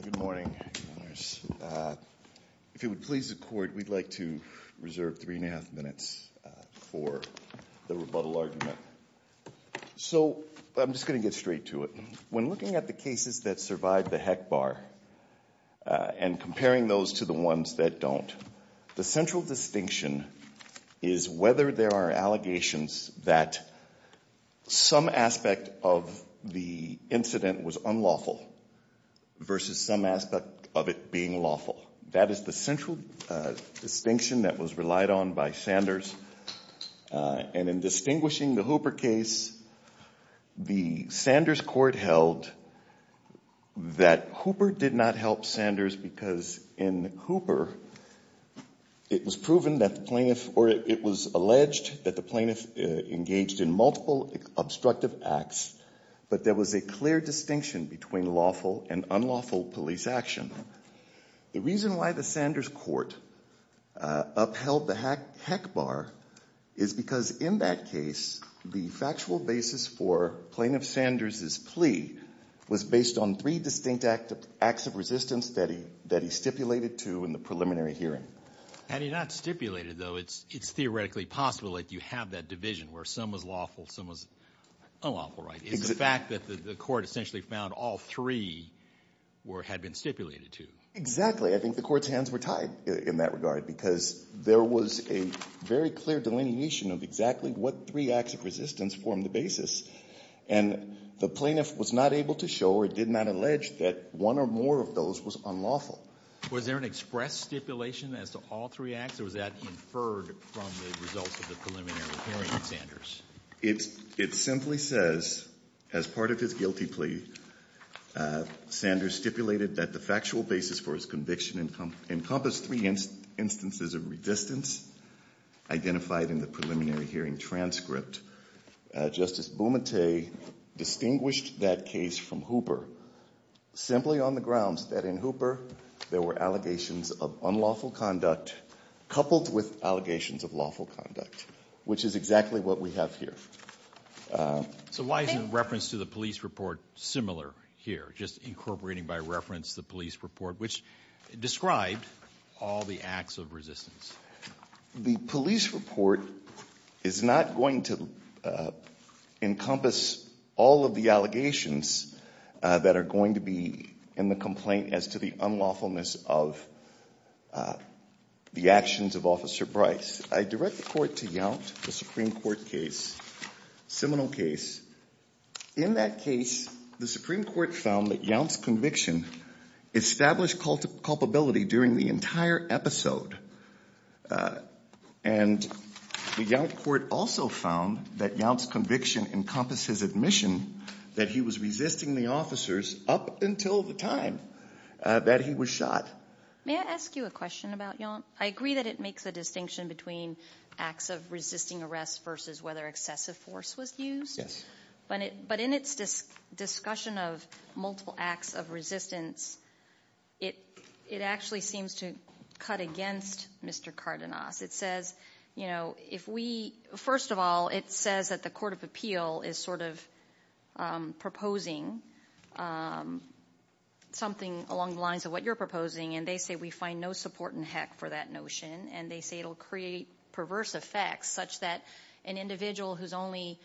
Good morning. If it would please the court, we'd like to reserve three and a half minutes for the rebuttal argument. So I'm just going to get straight to it. When looking at the cases that survived the heck bar and comparing those to the ones that don't, the central distinction is whether there are allegations that some aspect of the incident was unlawful versus some aspect of it being lawful. That is the central distinction that was relied on by Sanders. And in distinguishing the Hooper case, the Sanders court held that Hooper did not help Sanders because in Hooper it was alleged that the plaintiff engaged in multiple obstructive acts, but there was a clear distinction between lawful and unlawful police action. The reason why the Sanders court upheld the heck bar is because in that case, the factual basis for Plaintiff Sanders' plea was based on three distinct acts of resistance that he stipulated to in the preliminary hearing. And he not stipulated though, it's theoretically possible that you have that division where some was lawful, some was unlawful. That's not right. It's the fact that the court essentially found all three had been stipulated to. Exactly. I think the court's hands were tied in that regard because there was a very clear delineation of exactly what three acts of resistance formed the basis. And the plaintiff was not able to show or did not allege that one or more of those was unlawful. Was there an express stipulation as to all three acts or was that inferred from the results of the preliminary hearing, Sanders? It simply says as part of his guilty plea, Sanders stipulated that the factual basis for his conviction encompassed three instances of resistance identified in the preliminary hearing transcript. Justice Bumate distinguished that case from Hooper simply on the grounds that in Hooper, there were allegations of unlawful conduct coupled with allegations of lawful conduct, which is exactly what we have here. So why is the reference to the police report similar here? Just incorporating by reference the police report, which described all the acts of resistance. The police report is not going to encompass all of the allegations that are going to be in the complaint as to the unlawfulness of the actions of Officer Bryce. I direct the court to Yount, the Supreme Court case, Seminole case. In that case, the Supreme Court found that Yount's conviction established culpability during the entire episode. And the Yount court also found that Yount's conviction encompasses admission that he was resisting the officers up until the time that he was shot. May I ask you a question about Yount? I agree that it makes a distinction between acts of resisting arrest versus whether excessive force was used. But in its discussion of multiple acts of resistance, it actually seems to cut against Mr. Cardenas. It says, first of all, it says that the Court of Appeal is sort of proposing something along the lines of what you're proposing. And they say we find no support in Heck for that notion. And they say it will create perverse effects such that an individual who's only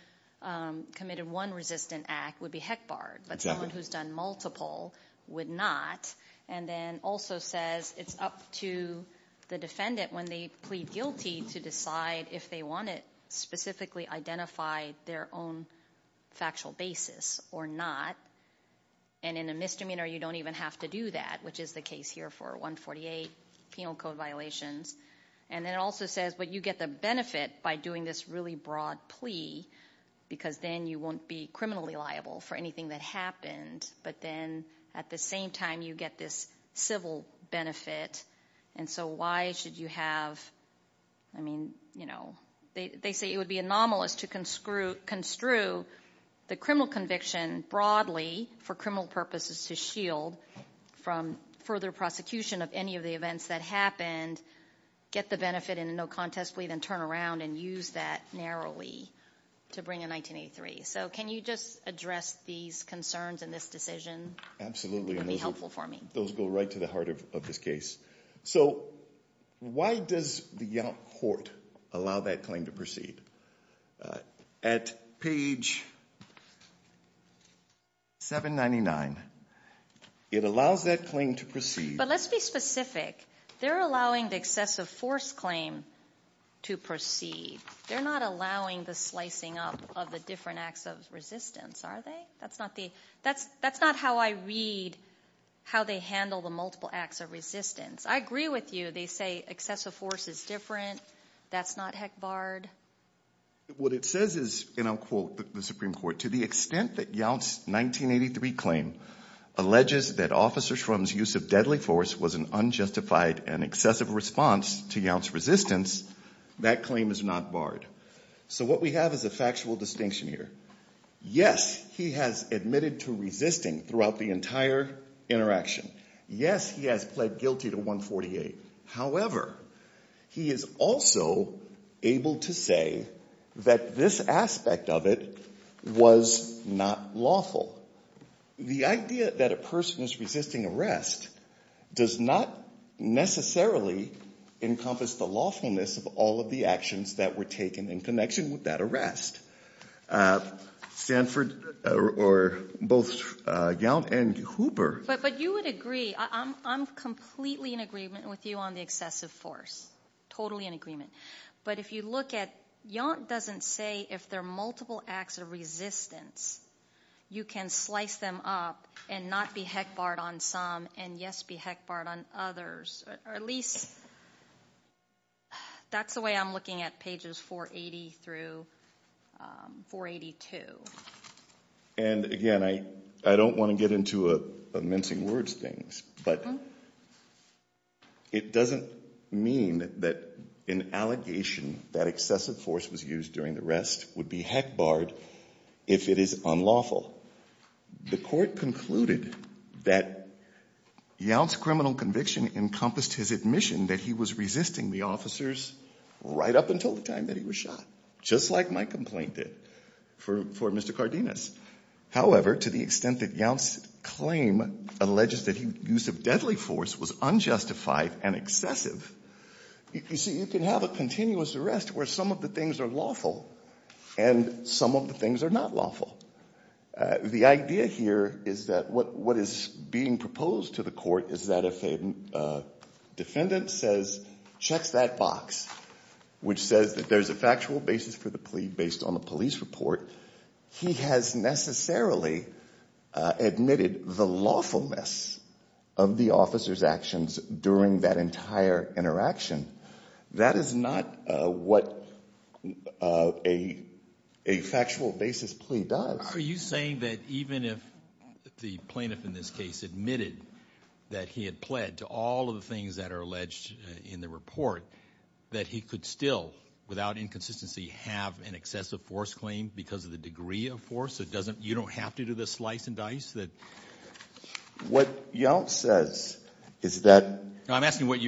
committed one resistant act would be heck barred. But someone who's done multiple would not. And then also says it's up to the defendant when they plead guilty to decide if they want to specifically identify their own factual basis or not. And in a misdemeanor, you don't even have to do that, which is the case here for 148 penal code violations. And then it also says, but you get the benefit by doing this really broad plea because then you won't be criminally liable for anything that happened. But then at the same time, you get this civil benefit. And so why should you have, I mean, they say it would be anomalous to construe the criminal conviction broadly for criminal purposes to shield from further prosecution of any of the events that happened. Get the benefit in a no contest plea, then turn around and use that narrowly to bring in 1983. So can you just address these concerns in this decision? It would be helpful for me. Those go right to the heart of this case. So why does the Yonk Court allow that claim to proceed? At page 799, it allows that claim to proceed. But let's be specific. They're allowing the excessive force claim to proceed. They're not allowing the slicing up of the different acts of resistance, are they? That's not how I read how they handle the multiple acts of resistance. I agree with you. They say excessive force is different. That's not heck barred. What it says is, and I'll quote the Supreme Court, to the extent that Yonk's 1983 claim alleges that Officer Shrum's use of deadly force was an unjustified and excessive response to Yonk's resistance, that claim is not barred. So what we have is a factual distinction here. Yes, he has admitted to resisting throughout the entire interaction. Yes, he has pled guilty to 148. However, he is also able to say that this aspect of it was not lawful. The idea that a person is resisting arrest does not necessarily encompass the lawfulness of all of the actions that were taken in connection with that arrest. Stanford or both Yonk and Hooper. But you would agree. I'm completely in agreement with you on the excessive force, totally in agreement. But if you look at Yonk doesn't say if there are multiple acts of resistance, you can slice them up and not be heck barred on some and, yes, be heck barred on others. Or at least that's the way I'm looking at pages 480 through 482. And again, I don't want to get into mincing words things. But it doesn't mean that an allegation that excessive force was used during the arrest would be heck barred if it is unlawful. The court concluded that Yonk's criminal conviction encompassed his admission that he was resisting the officers right up until the time that he was shot. Just like my complaint did for Mr. Cardenas. However, to the extent that Yonk's claim alleges that use of deadly force was unjustified and excessive, you see, you can have a continuous arrest where some of the things are lawful and some of the things are not lawful. The idea here is that what is being proposed to the court is that if a defendant says, checks that box, which says that there's a factual basis for the plea based on the police report, he has necessarily admitted the lawfulness of the officer's actions during that entire interaction. That is not what a factual basis plea does. Are you saying that even if the plaintiff in this case admitted that he had pled to all of the things that are alleged in the report, that he could still, without inconsistency, have an excessive force claim because of the degree of force? You don't have to do the slice and dice? What Yonk says is that— I'm asking what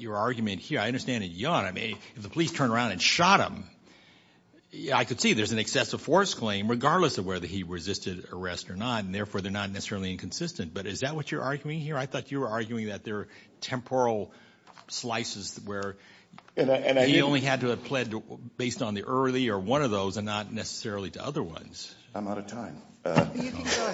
your argument here. I understand that Yonk, I mean, if the police turned around and shot him, I could see there's an excessive force claim regardless of whether he resisted arrest or not, and therefore they're not necessarily inconsistent. But is that what you're arguing here? I thought you were arguing that there are temporal slices where he only had to have pled based on the early or one of those and not necessarily to other ones. I'm out of time. I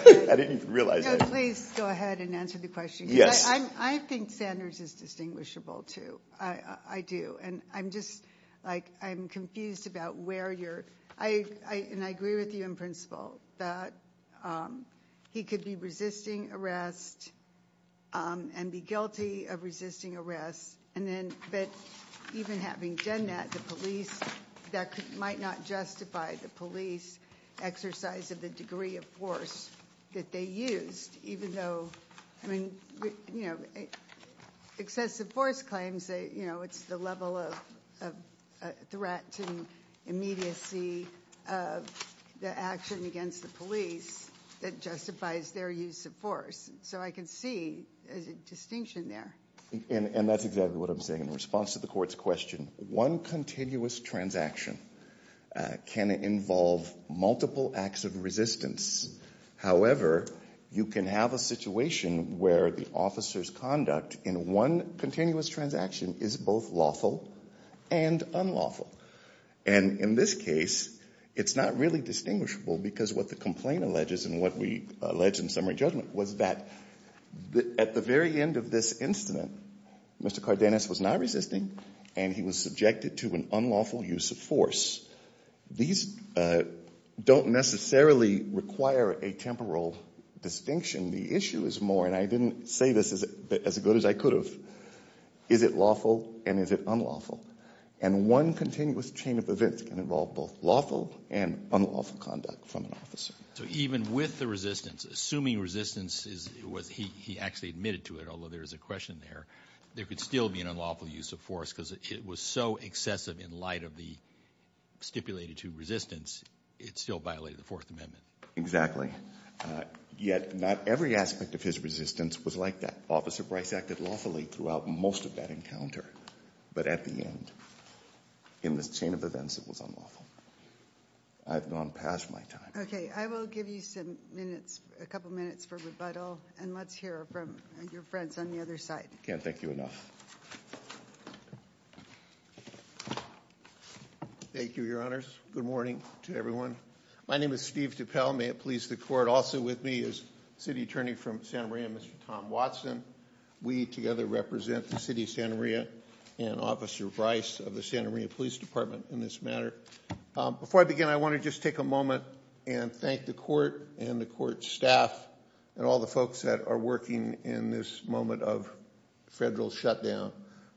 didn't even realize that. Please go ahead and answer the question. Yes. I think Sanders is distinguishable, too. I do. And I'm just, like, I'm confused about where you're—and I agree with you in principle that he could be resisting arrest and be guilty of resisting arrest, but even having done that, the police—that might not justify the police exercise of the degree of force that they used, even though, I mean, you know, excessive force claims, you know, it's the level of threat to immediacy of the action against the police that justifies their use of force. So I can see a distinction there. And that's exactly what I'm saying. In response to the court's question, one continuous transaction can involve multiple acts of resistance. However, you can have a situation where the officer's conduct in one continuous transaction is both lawful and unlawful. And in this case, it's not really distinguishable because what the complaint alleges and what we allege in summary judgment was that at the very end of this incident, Mr. Cardenas was not resisting and he was subjected to an unlawful use of force. These don't necessarily require a temporal distinction. The issue is more—and I didn't say this as good as I could have—is it lawful and is it unlawful? And one continuous chain of events can involve both lawful and unlawful conduct from an officer. So even with the resistance, assuming resistance is what he actually admitted to it, although there is a question there, there could still be an unlawful use of force because it was so excessive in light of the stipulated two resistance, it still violated the Fourth Amendment. Exactly. Yet not every aspect of his resistance was like that. Officer Bryce acted lawfully throughout most of that encounter, but at the end, in this chain of events, it was unlawful. I've gone past my time. Okay. I will give you some minutes, a couple minutes for rebuttal, and let's hear from your friends on the other side. Can't thank you enough. Thank you, Your Honors. Good morning to everyone. My name is Steve DuPel. May it please the Court. Also with me is City Attorney from Santa Maria, Mr. Tom Watson. We together represent the City of Santa Maria and Officer Bryce of the Santa Maria Police Department in this matter. Before I begin, I want to just take a moment and thank the Court and the Court staff and all the folks that are working in this moment of federal shutdown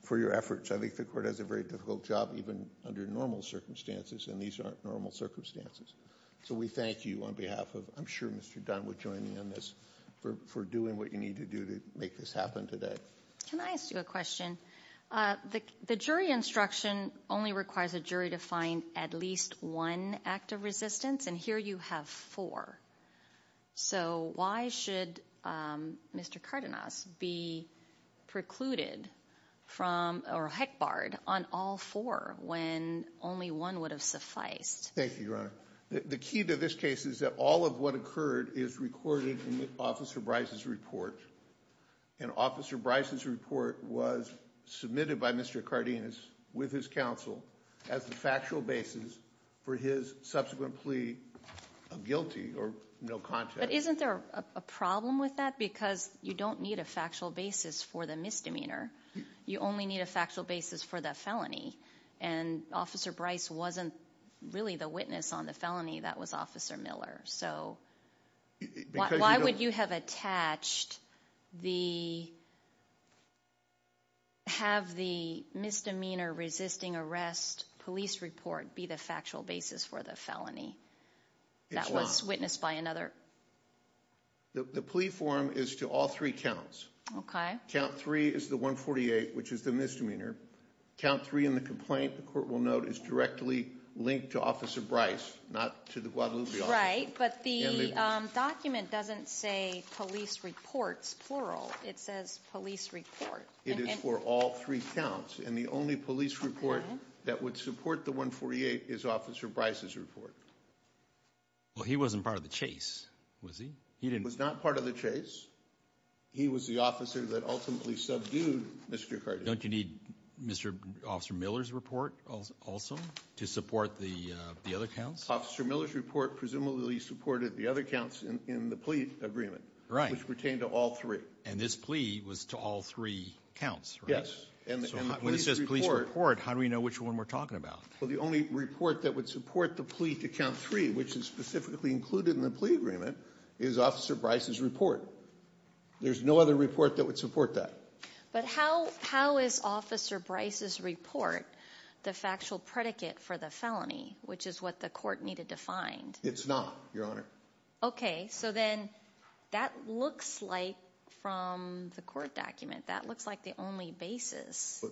for your efforts. I think the Court has a very difficult job even under normal circumstances, and these aren't normal circumstances. So we thank you on behalf of, I'm sure Mr. Dunn will join me on this, for doing what you need to do to make this happen today. Can I ask you a question? The jury instruction only requires a jury to find at least one act of resistance, and here you have four. So why should Mr. Cardenas be precluded from or heck barred on all four when only one would have sufficed? Thank you, Your Honor. The key to this case is that all of what occurred is recorded in Officer Bryce's report, and Officer Bryce's report was submitted by Mr. Cardenas with his counsel as the factual basis for his subsequent plea of guilty or no contact. But isn't there a problem with that? Because you don't need a factual basis for the misdemeanor. You only need a factual basis for the felony, and Officer Bryce wasn't really the witness on the felony. That was Officer Miller. So why would you have attached the, have the misdemeanor resisting arrest police report be the factual basis for the felony? That was witnessed by another? The plea form is to all three counts. Okay. Count three is the 148, which is the misdemeanor. Count three in the complaint, the court will note, is directly linked to Officer Bryce, not to the Guadalupe office. Right, but the document doesn't say police reports, plural. It says police report. It is for all three counts, and the only police report that would support the 148 is Officer Bryce's report. Well, he wasn't part of the chase, was he? He was not part of the chase. He was the officer that ultimately subdued Mr. Cardenas. Don't you need Mr. Officer Miller's report also to support the other counts? Officer Miller's report presumably supported the other counts in the plea agreement. Right. Which pertain to all three. And this plea was to all three counts, right? Yes. So when it says police report, how do we know which one we're talking about? Well, the only report that would support the plea to count three, which is specifically included in the plea agreement, is Officer Bryce's report. There's no other report that would support that. But how is Officer Bryce's report the factual predicate for the felony, which is what the court needed to find? It's not, Your Honor. Okay, so then that looks like, from the court document, that looks like the only basis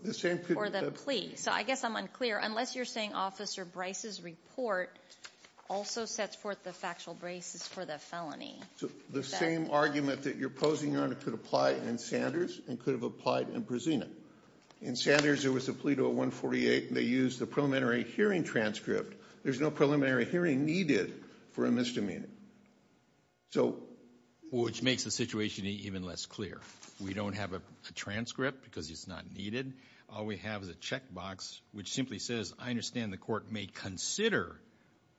for the plea. So I guess I'm unclear. Unless you're saying Officer Bryce's report also sets forth the factual basis for the felony. The same argument that you're posing, Your Honor, could apply in Sanders and could have applied in Brazina. In Sanders, there was a plea to a 148. They used the preliminary hearing transcript. There's no preliminary hearing needed for a misdemeanor. Which makes the situation even less clear. We don't have a transcript because it's not needed. All we have is a checkbox, which simply says, I understand the court may consider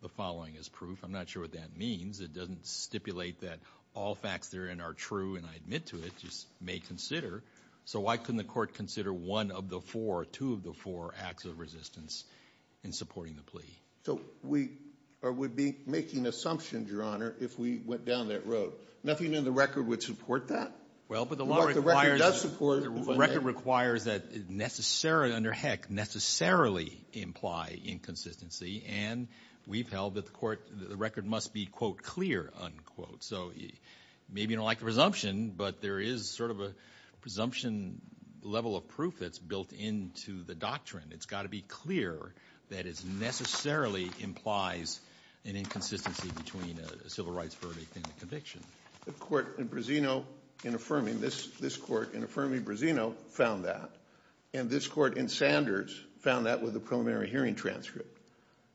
the following as proof. I'm not sure what that means. It doesn't stipulate that all facts therein are true, and I admit to it, just may consider. So why couldn't the court consider one of the four, two of the four acts of resistance in supporting the plea? So we would be making assumptions, Your Honor, if we went down that road. Nothing in the record would support that. Well, but the law requires. The record does support. The record requires that necessarily, under heck, necessarily imply inconsistency. And we've held that the record must be, quote, clear, unquote. So maybe you don't like the presumption, but there is sort of a presumption level of proof that's built into the doctrine. It's got to be clear that it necessarily implies an inconsistency between a civil rights verdict and a conviction. The court in Brazino, in affirming this court, in affirming Brazino, found that. And this court in Sanders found that with a preliminary hearing transcript.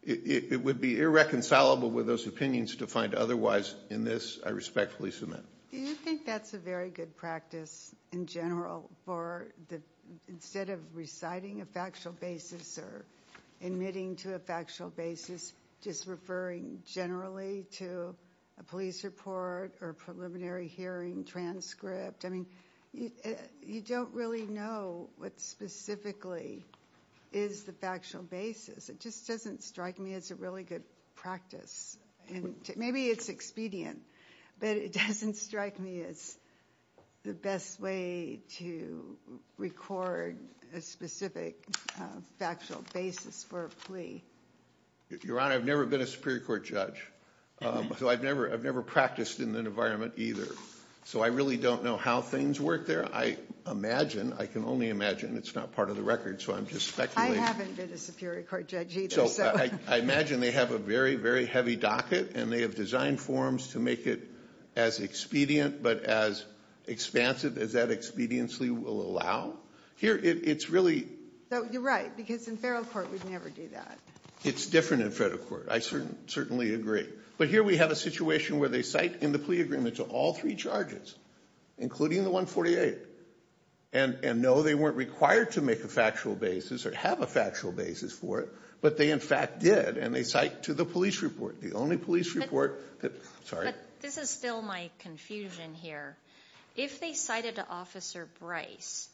It would be irreconcilable with those opinions to find otherwise in this, I respectfully submit. Do you think that's a very good practice in general for instead of reciting a factual basis or admitting to a factual basis, just referring generally to a police report or a preliminary hearing transcript? I mean, you don't really know what specifically is the factual basis. It just doesn't strike me as a really good practice. Maybe it's expedient, but it doesn't strike me as the best way to record a specific factual basis for a plea. Your Honor, I've never been a Superior Court judge, so I've never practiced in that environment either. So I really don't know how things work there. I imagine, I can only imagine, it's not part of the record, so I'm just speculating. I haven't been a Superior Court judge either, so. I imagine they have a very, very heavy docket, and they have designed forms to make it as expedient, but as expansive as that expediently will allow. Here, it's really. You're right, because in federal court, we'd never do that. It's different in federal court. I certainly agree. But here we have a situation where they cite in the plea agreement to all three charges, including the 148. And no, they weren't required to make a factual basis or have a factual basis for it, but they in fact did. And they cite to the police report. The only police report. Sorry. But this is still my confusion here. If they cited to Officer Bryce,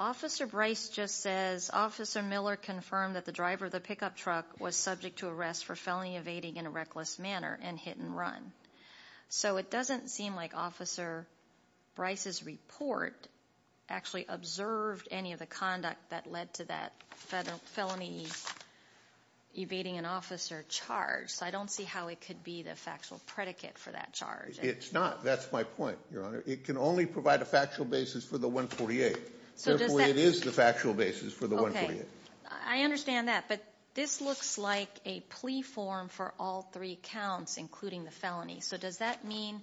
Officer Bryce just says, Officer Miller confirmed that the driver of the pickup truck was subject to arrest for felony evading in a reckless manner and hit and run. So it doesn't seem like Officer Bryce's report actually observed any of the conduct that led to that felony evading an officer charge. So I don't see how it could be the factual predicate for that charge. It's not. That's my point, Your Honor. It can only provide a factual basis for the 148. Therefore, it is the factual basis for the 148. Okay. I understand that. But this looks like a plea form for all three counts, including the felony. So does that mean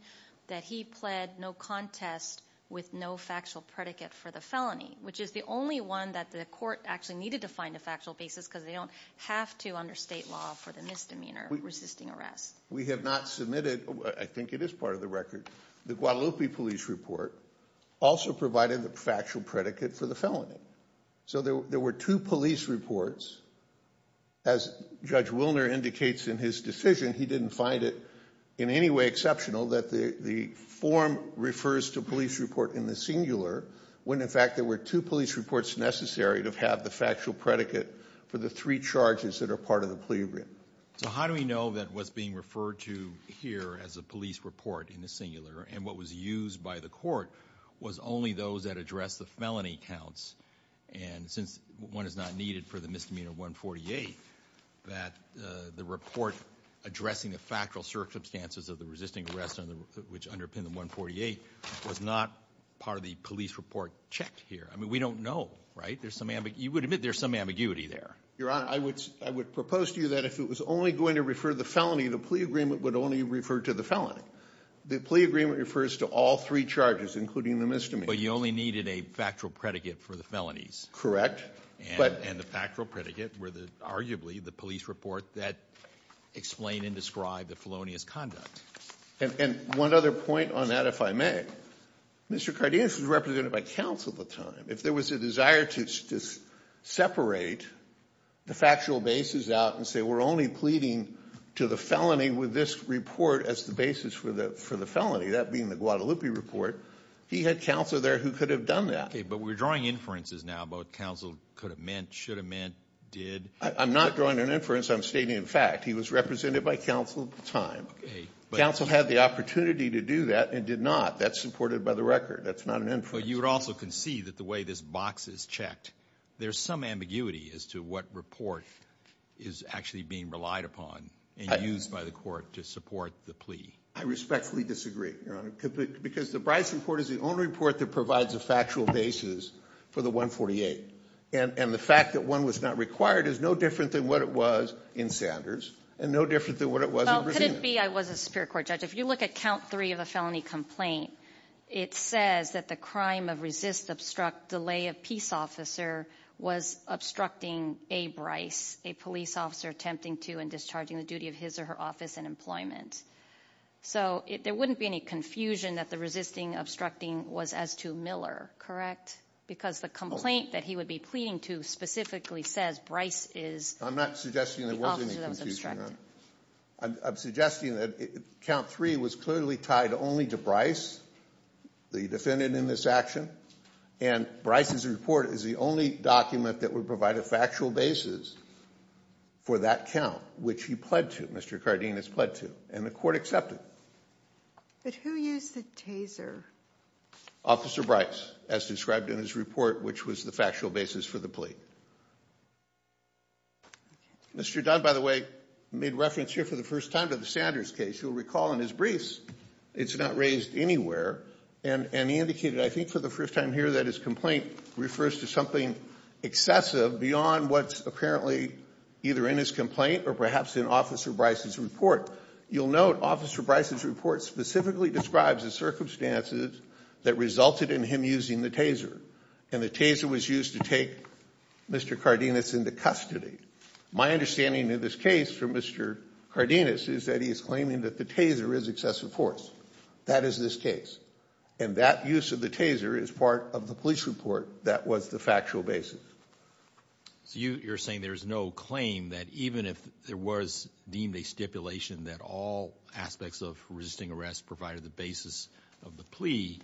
that he pled no contest with no factual predicate for the felony, which is the only one that the court actually needed to find a factual basis because they don't have to under state law for the misdemeanor resisting arrest? We have not submitted. I think it is part of the record. The Guadalupe police report also provided the factual predicate for the felony. So there were two police reports. As Judge Wilner indicates in his decision, he didn't find it in any way exceptional that the form refers to police report in the singular when, in fact, there were two police reports necessary to have the factual predicate for the three charges that are part of the plea agreement. So how do we know that what's being referred to here as a police report in the singular and what was used by the court was only those that address the felony counts? And since one is not needed for the misdemeanor 148, that the report addressing the factual circumstances of the resisting arrest, which underpinned the 148, was not part of the police report checked here. I mean, we don't know. Right? There's some ambiguity. You would admit there's some ambiguity there. Your Honor, I would propose to you that if it was only going to refer the felony, the plea agreement would only refer to the felony. The plea agreement refers to all three charges, including the misdemeanor. But you only needed a factual predicate for the felonies. Correct. And the factual predicate were arguably the police report that explained and described the felonious conduct. And one other point on that, if I may. Mr. Cardenas was represented by counsel at the time. If there was a desire to separate the factual basis out and say we're only pleading to the felony with this report as the basis for the felony, that being the Guadalupe report, he had counsel there who could have done that. Okay. But we're drawing inferences now about what counsel could have meant, should have meant, did. I'm not drawing an inference. I'm stating a fact. He was represented by counsel at the time. Okay. Counsel had the opportunity to do that and did not. That's supported by the record. That's not an inference. But you would also concede that the way this box is checked, there's some ambiguity as to what report is actually being relied upon and used by the court to support the plea. I respectfully disagree, Your Honor, because the Bryson report is the only report that provides a factual basis for the 148. And the fact that one was not required is no different than what it was in Sanders and no different than what it was in Brazina. Well, could it be I was a superior court judge? If you look at count three of a felony complaint, it says that the crime of resist, obstruct, delay of peace officer was obstructing a Bryce, a police officer attempting to and discharging the duty of his or her office and employment. So there wouldn't be any confusion that the resisting, obstructing was as to Miller, correct? Because the complaint that he would be pleading to specifically says Bryce is the officer that was obstructing. I'm suggesting that count three was clearly tied only to Bryce, the defendant in this action. And Bryce's report is the only document that would provide a factual basis for that count, which he pled to. Mr. Cardenas pled to and the court accepted. But who used the taser? Officer Bryce, as described in his report, which was the factual basis for the plea. Mr. Dunn, by the way, made reference here for the first time to the Sanders case. You'll recall in his briefs, it's not raised anywhere. And he indicated, I think, for the first time here that his complaint refers to something excessive beyond what's apparently either in his complaint or perhaps in Officer Bryce's report. You'll note Officer Bryce's report specifically describes the circumstances that resulted in him using the taser. And the taser was used to take Mr. Cardenas into custody. My understanding of this case for Mr. Cardenas is that he is claiming that the taser is excessive force. That is this case. And that use of the taser is part of the police report that was the factual basis. So you're saying there's no claim that even if there was deemed a stipulation that all aspects of resisting arrest provided the basis of the plea,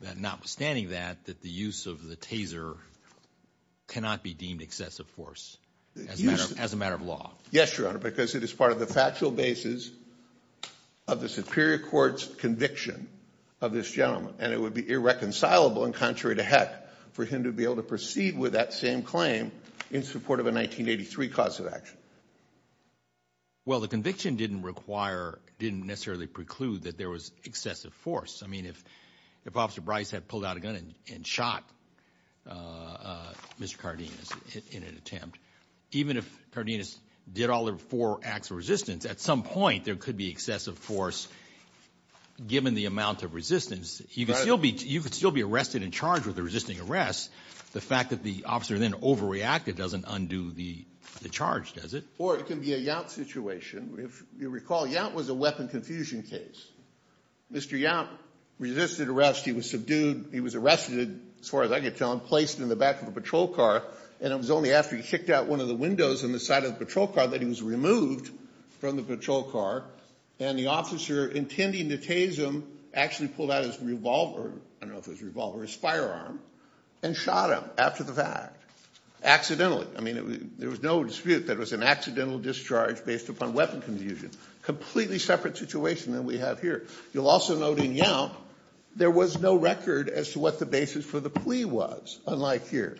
that notwithstanding that, that the use of the taser cannot be deemed excessive force as a matter of law? Yes, Your Honor, because it is part of the factual basis of the superior court's conviction of this gentleman. And it would be irreconcilable and contrary to heck for him to be able to proceed with that same claim in support of a 1983 cause of action. Well, the conviction didn't require, didn't necessarily preclude that there was excessive force. I mean, if Officer Bryce had pulled out a gun and shot Mr. Cardenas in an attempt, even if Cardenas did all of the four acts of resistance, at some point there could be excessive force given the amount of resistance. You could still be arrested and charged with a resisting arrest. The fact that the officer then overreacted doesn't undo the charge, does it? Or it could be a Yacht situation. If you recall, Yacht was a weapon confusion case. Mr. Yacht resisted arrest. He was subdued. He was arrested, as far as I could tell, and placed in the back of a patrol car. And it was only after he kicked out one of the windows on the side of the patrol car that he was removed from the patrol car. And the officer, intending to tase him, actually pulled out his revolver, I don't know if it was a revolver, his firearm, and shot him after the fact. Accidentally. I mean, there was no dispute that it was an accidental discharge based upon weapon confusion. Completely separate situation than we have here. You'll also note in Yacht, there was no record as to what the basis for the plea was. Unlike here.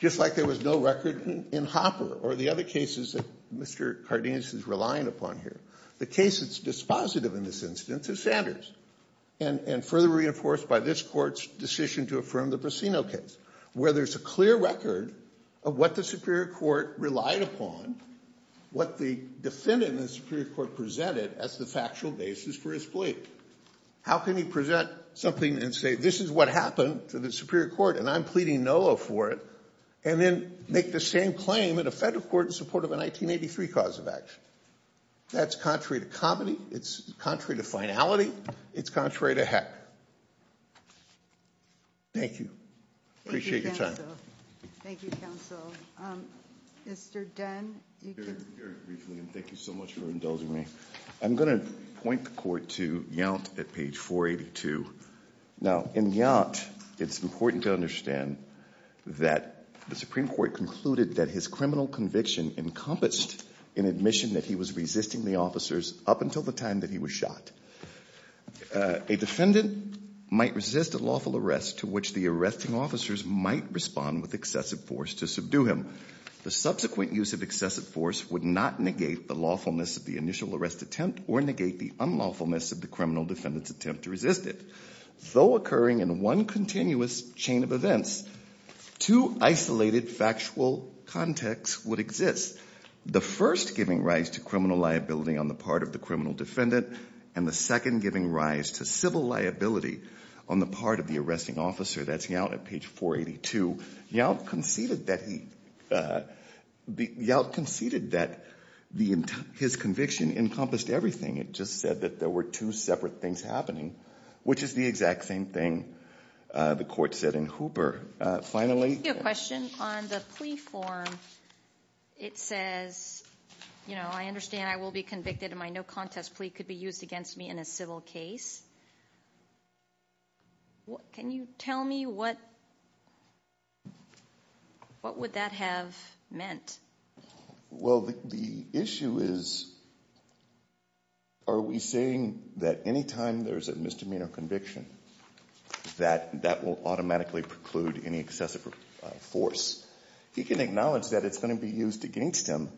Just like there was no record in Hopper or the other cases that Mr. Cardenas is relying upon here. The case that's dispositive in this instance is Sanders. And further reinforced by this court's decision to affirm the Brasino case. Where there's a clear record of what the Superior Court relied upon, what the defendant in the Superior Court presented as the factual basis for his plea. How can you present something and say, this is what happened to the Superior Court, and I'm pleading no for it. And then make the same claim in a federal court in support of a 1983 cause of action. That's contrary to comedy. It's contrary to finality. It's contrary to heck. Thank you. Appreciate your time. Thank you, counsel. Mr. Dunn. Very briefly, and thank you so much for indulging me. I'm going to point the court to Yacht at page 482. Now, in Yacht, it's important to understand that the Supreme Court concluded that his criminal conviction encompassed an admission that he was resisting the officers up until the time that he was shot. A defendant might resist a lawful arrest to which the arresting officers might respond with excessive force to subdue him. The subsequent use of excessive force would not negate the lawfulness of the initial arrest attempt or negate the unlawfulness of the criminal defendant's attempt to resist it. Though occurring in one continuous chain of events, two isolated factual contexts would exist. The first giving rise to criminal liability on the part of the criminal defendant and the second giving rise to civil liability on the part of the arresting officer. That's Yacht at page 482. Yacht conceded that his conviction encompassed everything. It just said that there were two separate things happening, which is the exact same thing the court said in Hooper. I have a question on the plea form. It says, you know, I understand I will be convicted and my no contest plea could be used against me in a civil case. Can you tell me what would that have meant? Well, the issue is, are we saying that any time there's a misdemeanor conviction that that will automatically preclude any excessive force? He can acknowledge that it's going to be used against him,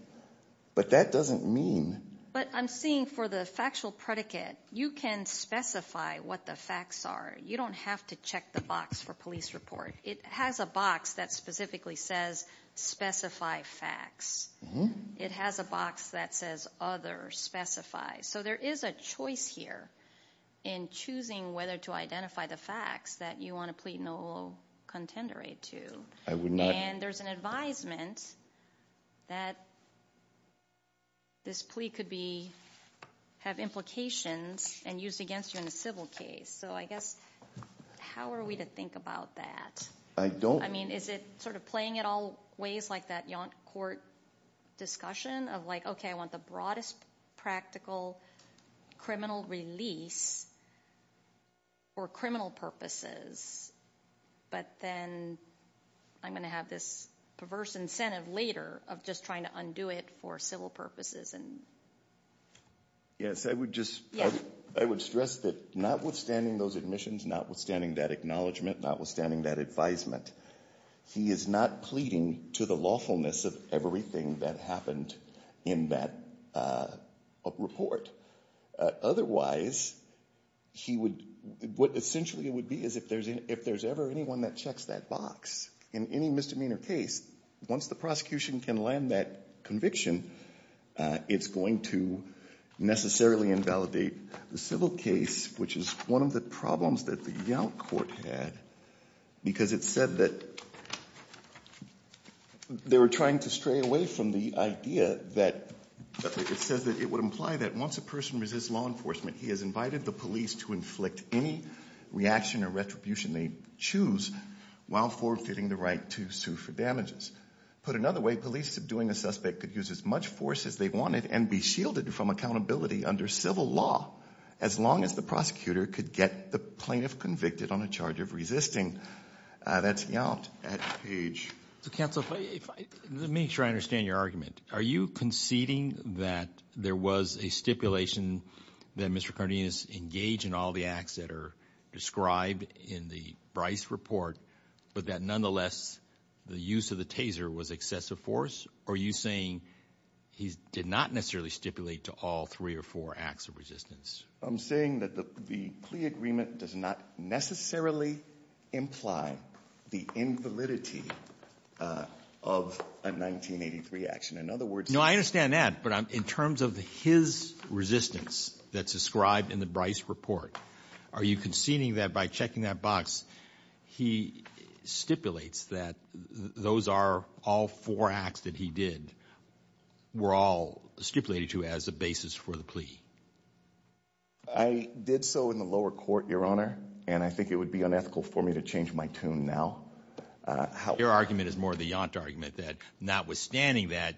but that doesn't mean. But I'm seeing for the factual predicate, you can specify what the facts are. You don't have to check the box for police report. It has a box that specifically says specify facts. It has a box that says other specifies. So there is a choice here in choosing whether to identify the facts that you want to plead no contender to. And there's an advisement that this plea could be have implications and used against you in a civil case. So I guess how are we to think about that? I don't. I mean, is it sort of playing it all ways like that court discussion of like, okay, I want the broadest practical criminal release for criminal purposes. But then I'm going to have this perverse incentive later of just trying to undo it for civil purposes. Yes. I would stress that notwithstanding those admissions, notwithstanding that acknowledgement, notwithstanding that advisement, he is not pleading to the lawfulness of everything that happened in that report. Otherwise, what essentially it would be is if there's ever anyone that checks that box in any misdemeanor case, once the prosecution can land that conviction, it's going to necessarily invalidate the civil case, which is one of the problems that the Yale court had, because it said that they were trying to stray away from the idea that it says that it would imply that once a person resists law enforcement, he has invited the police to inflict any reaction or retribution they choose while forfeiting the right to sue for damages. Put another way, police subduing a suspect could use as much force as they wanted and be shielded from accountability under civil law as long as the prosecutor could get the plaintiff convicted on a charge of resisting. That's Yalt at Page. So, counsel, let me try to understand your argument. Are you conceding that there was a stipulation that Mr. Cardenas engaged in all the acts that are described in the Bryce report, but that nonetheless the use of the taser was excessive force, or are you saying he did not necessarily stipulate to all three or four acts of resistance? I'm saying that the plea agreement does not necessarily imply the invalidity of a 1983 action. In other words… No, I understand that, but in terms of his resistance that's described in the Bryce report, are you conceding that by checking that box he stipulates that those are all four acts that he did were all stipulated to as a basis for the plea? I did so in the lower court, Your Honor, and I think it would be unethical for me to change my tune now. Your argument is more the Yalt argument that notwithstanding that,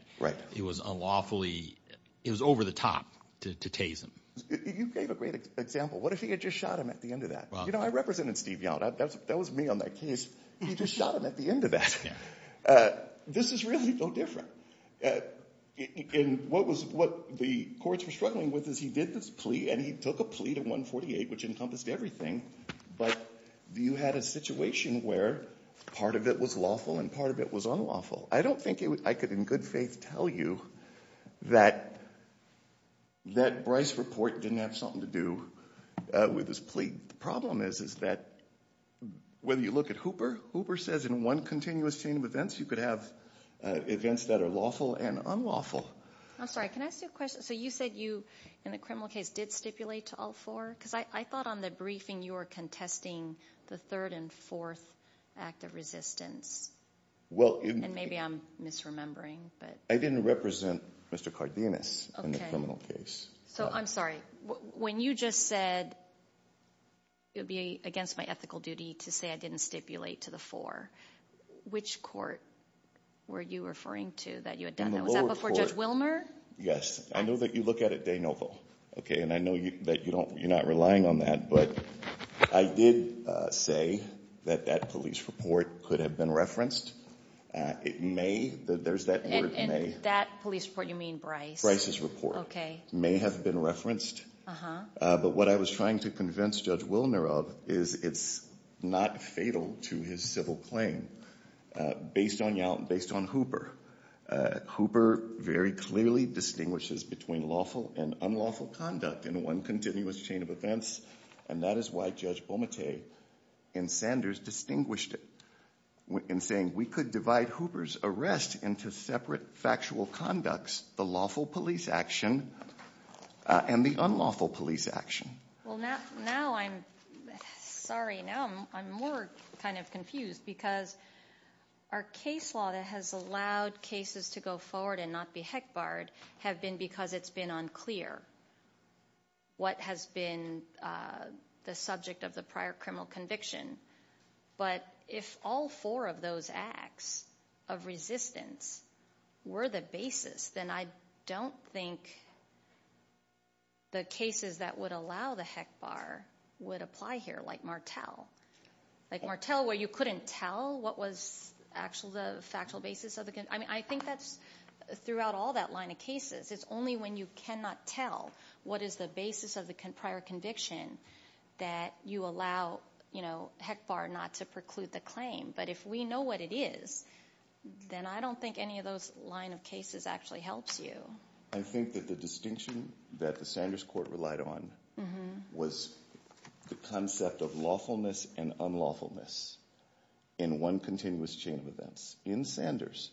it was unlawfully – it was over the top to tase him. You gave a great example. What if he had just shot him at the end of that? You know, I represented Steve Yalt. That was me on that case. He just shot him at the end of that. This is really no different. What the courts were struggling with is he did this plea and he took a plea to 148, which encompassed everything, but you had a situation where part of it was lawful and part of it was unlawful. I don't think I could in good faith tell you that Bryce report didn't have something to do with his plea. The problem is that whether you look at Hooper, Hooper says in one continuous chain of events, you could have events that are lawful and unlawful. I'm sorry. Can I ask you a question? So you said you, in the criminal case, did stipulate to all four? Because I thought on the briefing you were contesting the third and fourth act of resistance. And maybe I'm misremembering. I didn't represent Mr. Cardenas in the criminal case. So I'm sorry. When you just said it would be against my ethical duty to say I didn't stipulate to the four, which court were you referring to that you had done that? Was that before Judge Wilmer? Yes. I know that you look at it, De Novo. And I know that you're not relying on that. But I did say that that police report could have been referenced. It may. There's that word may. And that police report, you mean Bryce? Bryce's report. Okay. It may have been referenced. But what I was trying to convince Judge Wilmer of is it's not fatal to his civil claim based on Hooper. Hooper very clearly distinguishes between lawful and unlawful conduct in one continuous chain of events, and that is why Judge Bomette and Sanders distinguished it in saying we could divide Hooper's arrest into separate factual conducts, the lawful police action and the unlawful police action. Well, now I'm sorry. Now I'm more kind of confused because our case law that has allowed cases to go forward and not be heck barred have been because it's been unclear what has been the subject of the prior criminal conviction. But if all four of those acts of resistance were the basis, then I don't think the cases that would allow the heck bar would apply here like Martel. Like Martel where you couldn't tell what was actually the factual basis of the conviction. I mean, I think that's throughout all that line of cases. It's only when you cannot tell what is the basis of the prior conviction that you allow heck bar not to preclude the claim. But if we know what it is, then I don't think any of those line of cases actually helps you. I think that the distinction that the Sanders court relied on was the concept of lawfulness and unlawfulness in one continuous chain of events. In Sanders,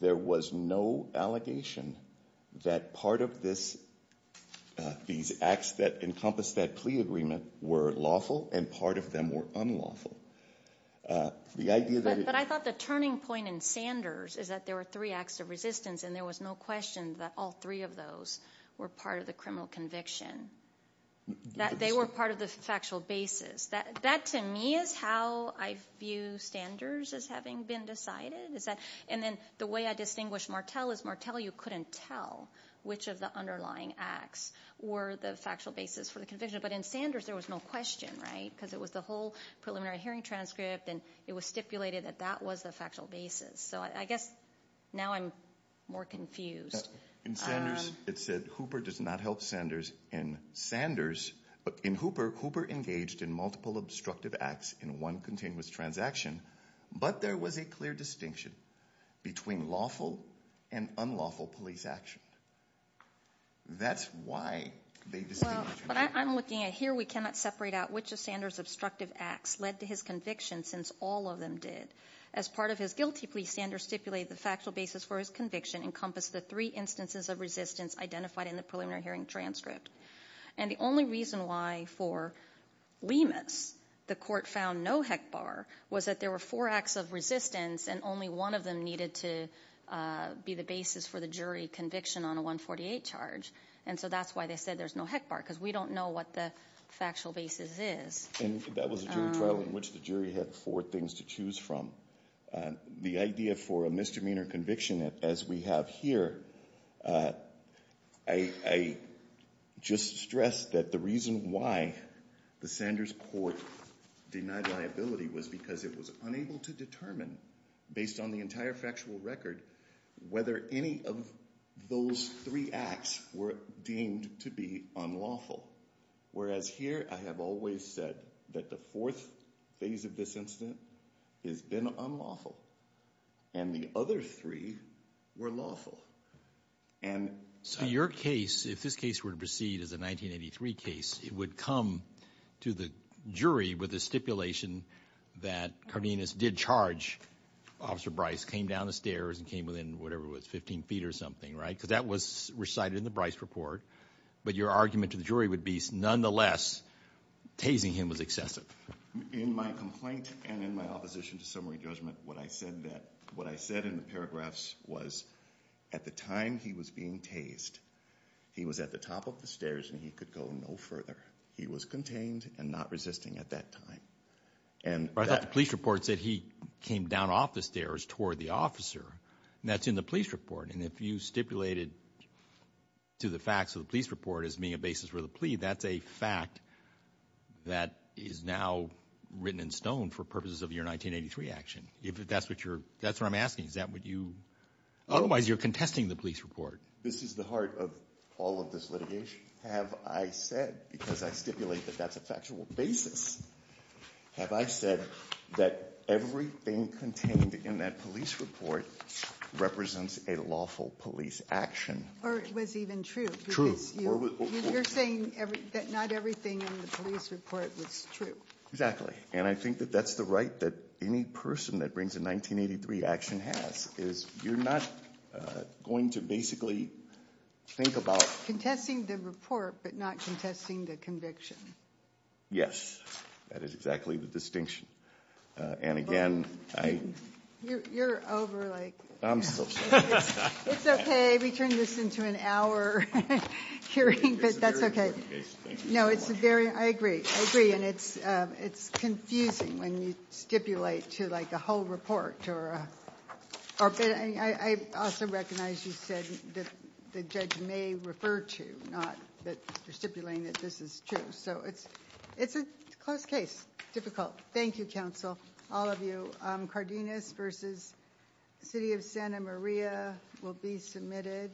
there was no allegation that part of these acts that encompassed that plea agreement were lawful and part of them were unlawful. But I thought the turning point in Sanders is that there were three acts of resistance and there was no question that all three of those were part of the criminal conviction. That they were part of the factual basis. That to me is how I view Sanders as having been decided. And then the way I distinguish Martel is Martel you couldn't tell which of the underlying acts were the factual basis for the conviction. But in Sanders there was no question, right? Because it was the whole preliminary hearing transcript and it was stipulated that that was the factual basis. So I guess now I'm more confused. In Sanders it said Hooper does not help Sanders. In Hooper, Hooper engaged in multiple obstructive acts in one continuous transaction. But there was a clear distinction between lawful and unlawful police action. That's why they distinguished. I'm looking at here we cannot separate out which of Sanders' obstructive acts led to his conviction since all of them did. As part of his guilty plea, Sanders stipulated the factual basis for his conviction encompassed the three instances of resistance identified in the preliminary hearing transcript. And the only reason why for Lemus the court found no HECBAR was that there were four acts of resistance and only one of them needed to be the basis for the jury conviction on a 148 charge. And so that's why they said there's no HECBAR because we don't know what the factual basis is. And that was a jury trial in which the jury had four things to choose from. The idea for a misdemeanor conviction as we have here, I just stress that the reason why the Sanders court denied liability was because it was unable to determine, based on the entire factual record, whether any of those three acts were deemed to be unlawful. Whereas here, I have always said that the fourth phase of this incident has been unlawful. And the other three were lawful. And so your case, if this case were to proceed as a 1983 case, it would come to the jury with a stipulation that Cardenas did charge Officer Bryce, came down the stairs and came within whatever was 15 feet or something, right? Because that was recited in the Bryce report. But your argument to the jury would be, nonetheless, tasing him was excessive. In my complaint and in my opposition to summary judgment, what I said in the paragraphs was at the time he was being tased, he was at the top of the stairs and he could go no further. He was contained and not resisting at that time. But I thought the police report said he came down off the stairs toward the officer. And that's in the police report. And if you stipulated to the facts of the police report as being a basis for the plea, that's a fact that is now written in stone for purposes of your 1983 action. That's what I'm asking. Otherwise, you're contesting the police report. This is the heart of all of this litigation. Have I said, because I stipulate that that's a factual basis, have I said that everything contained in that police report represents a lawful police action? Or it was even true. You're saying that not everything in the police report was true. Exactly. And I think that that's the right that any person that brings a 1983 action has, is you're not going to basically think about- Contesting the report but not contesting the conviction. Yes. That is exactly the distinction. And again, I- You're over, like- I'm so sorry. It's okay. We turned this into an hour hearing. But that's okay. No, it's a very- I agree. I agree. And it's confusing when you stipulate to, like, a whole report or- I also recognize you said that the judge may refer to, not that you're stipulating that this is true. So it's a close case. Difficult. Thank you, counsel, all of you. Cardenas v. City of Santa Maria will be submitted.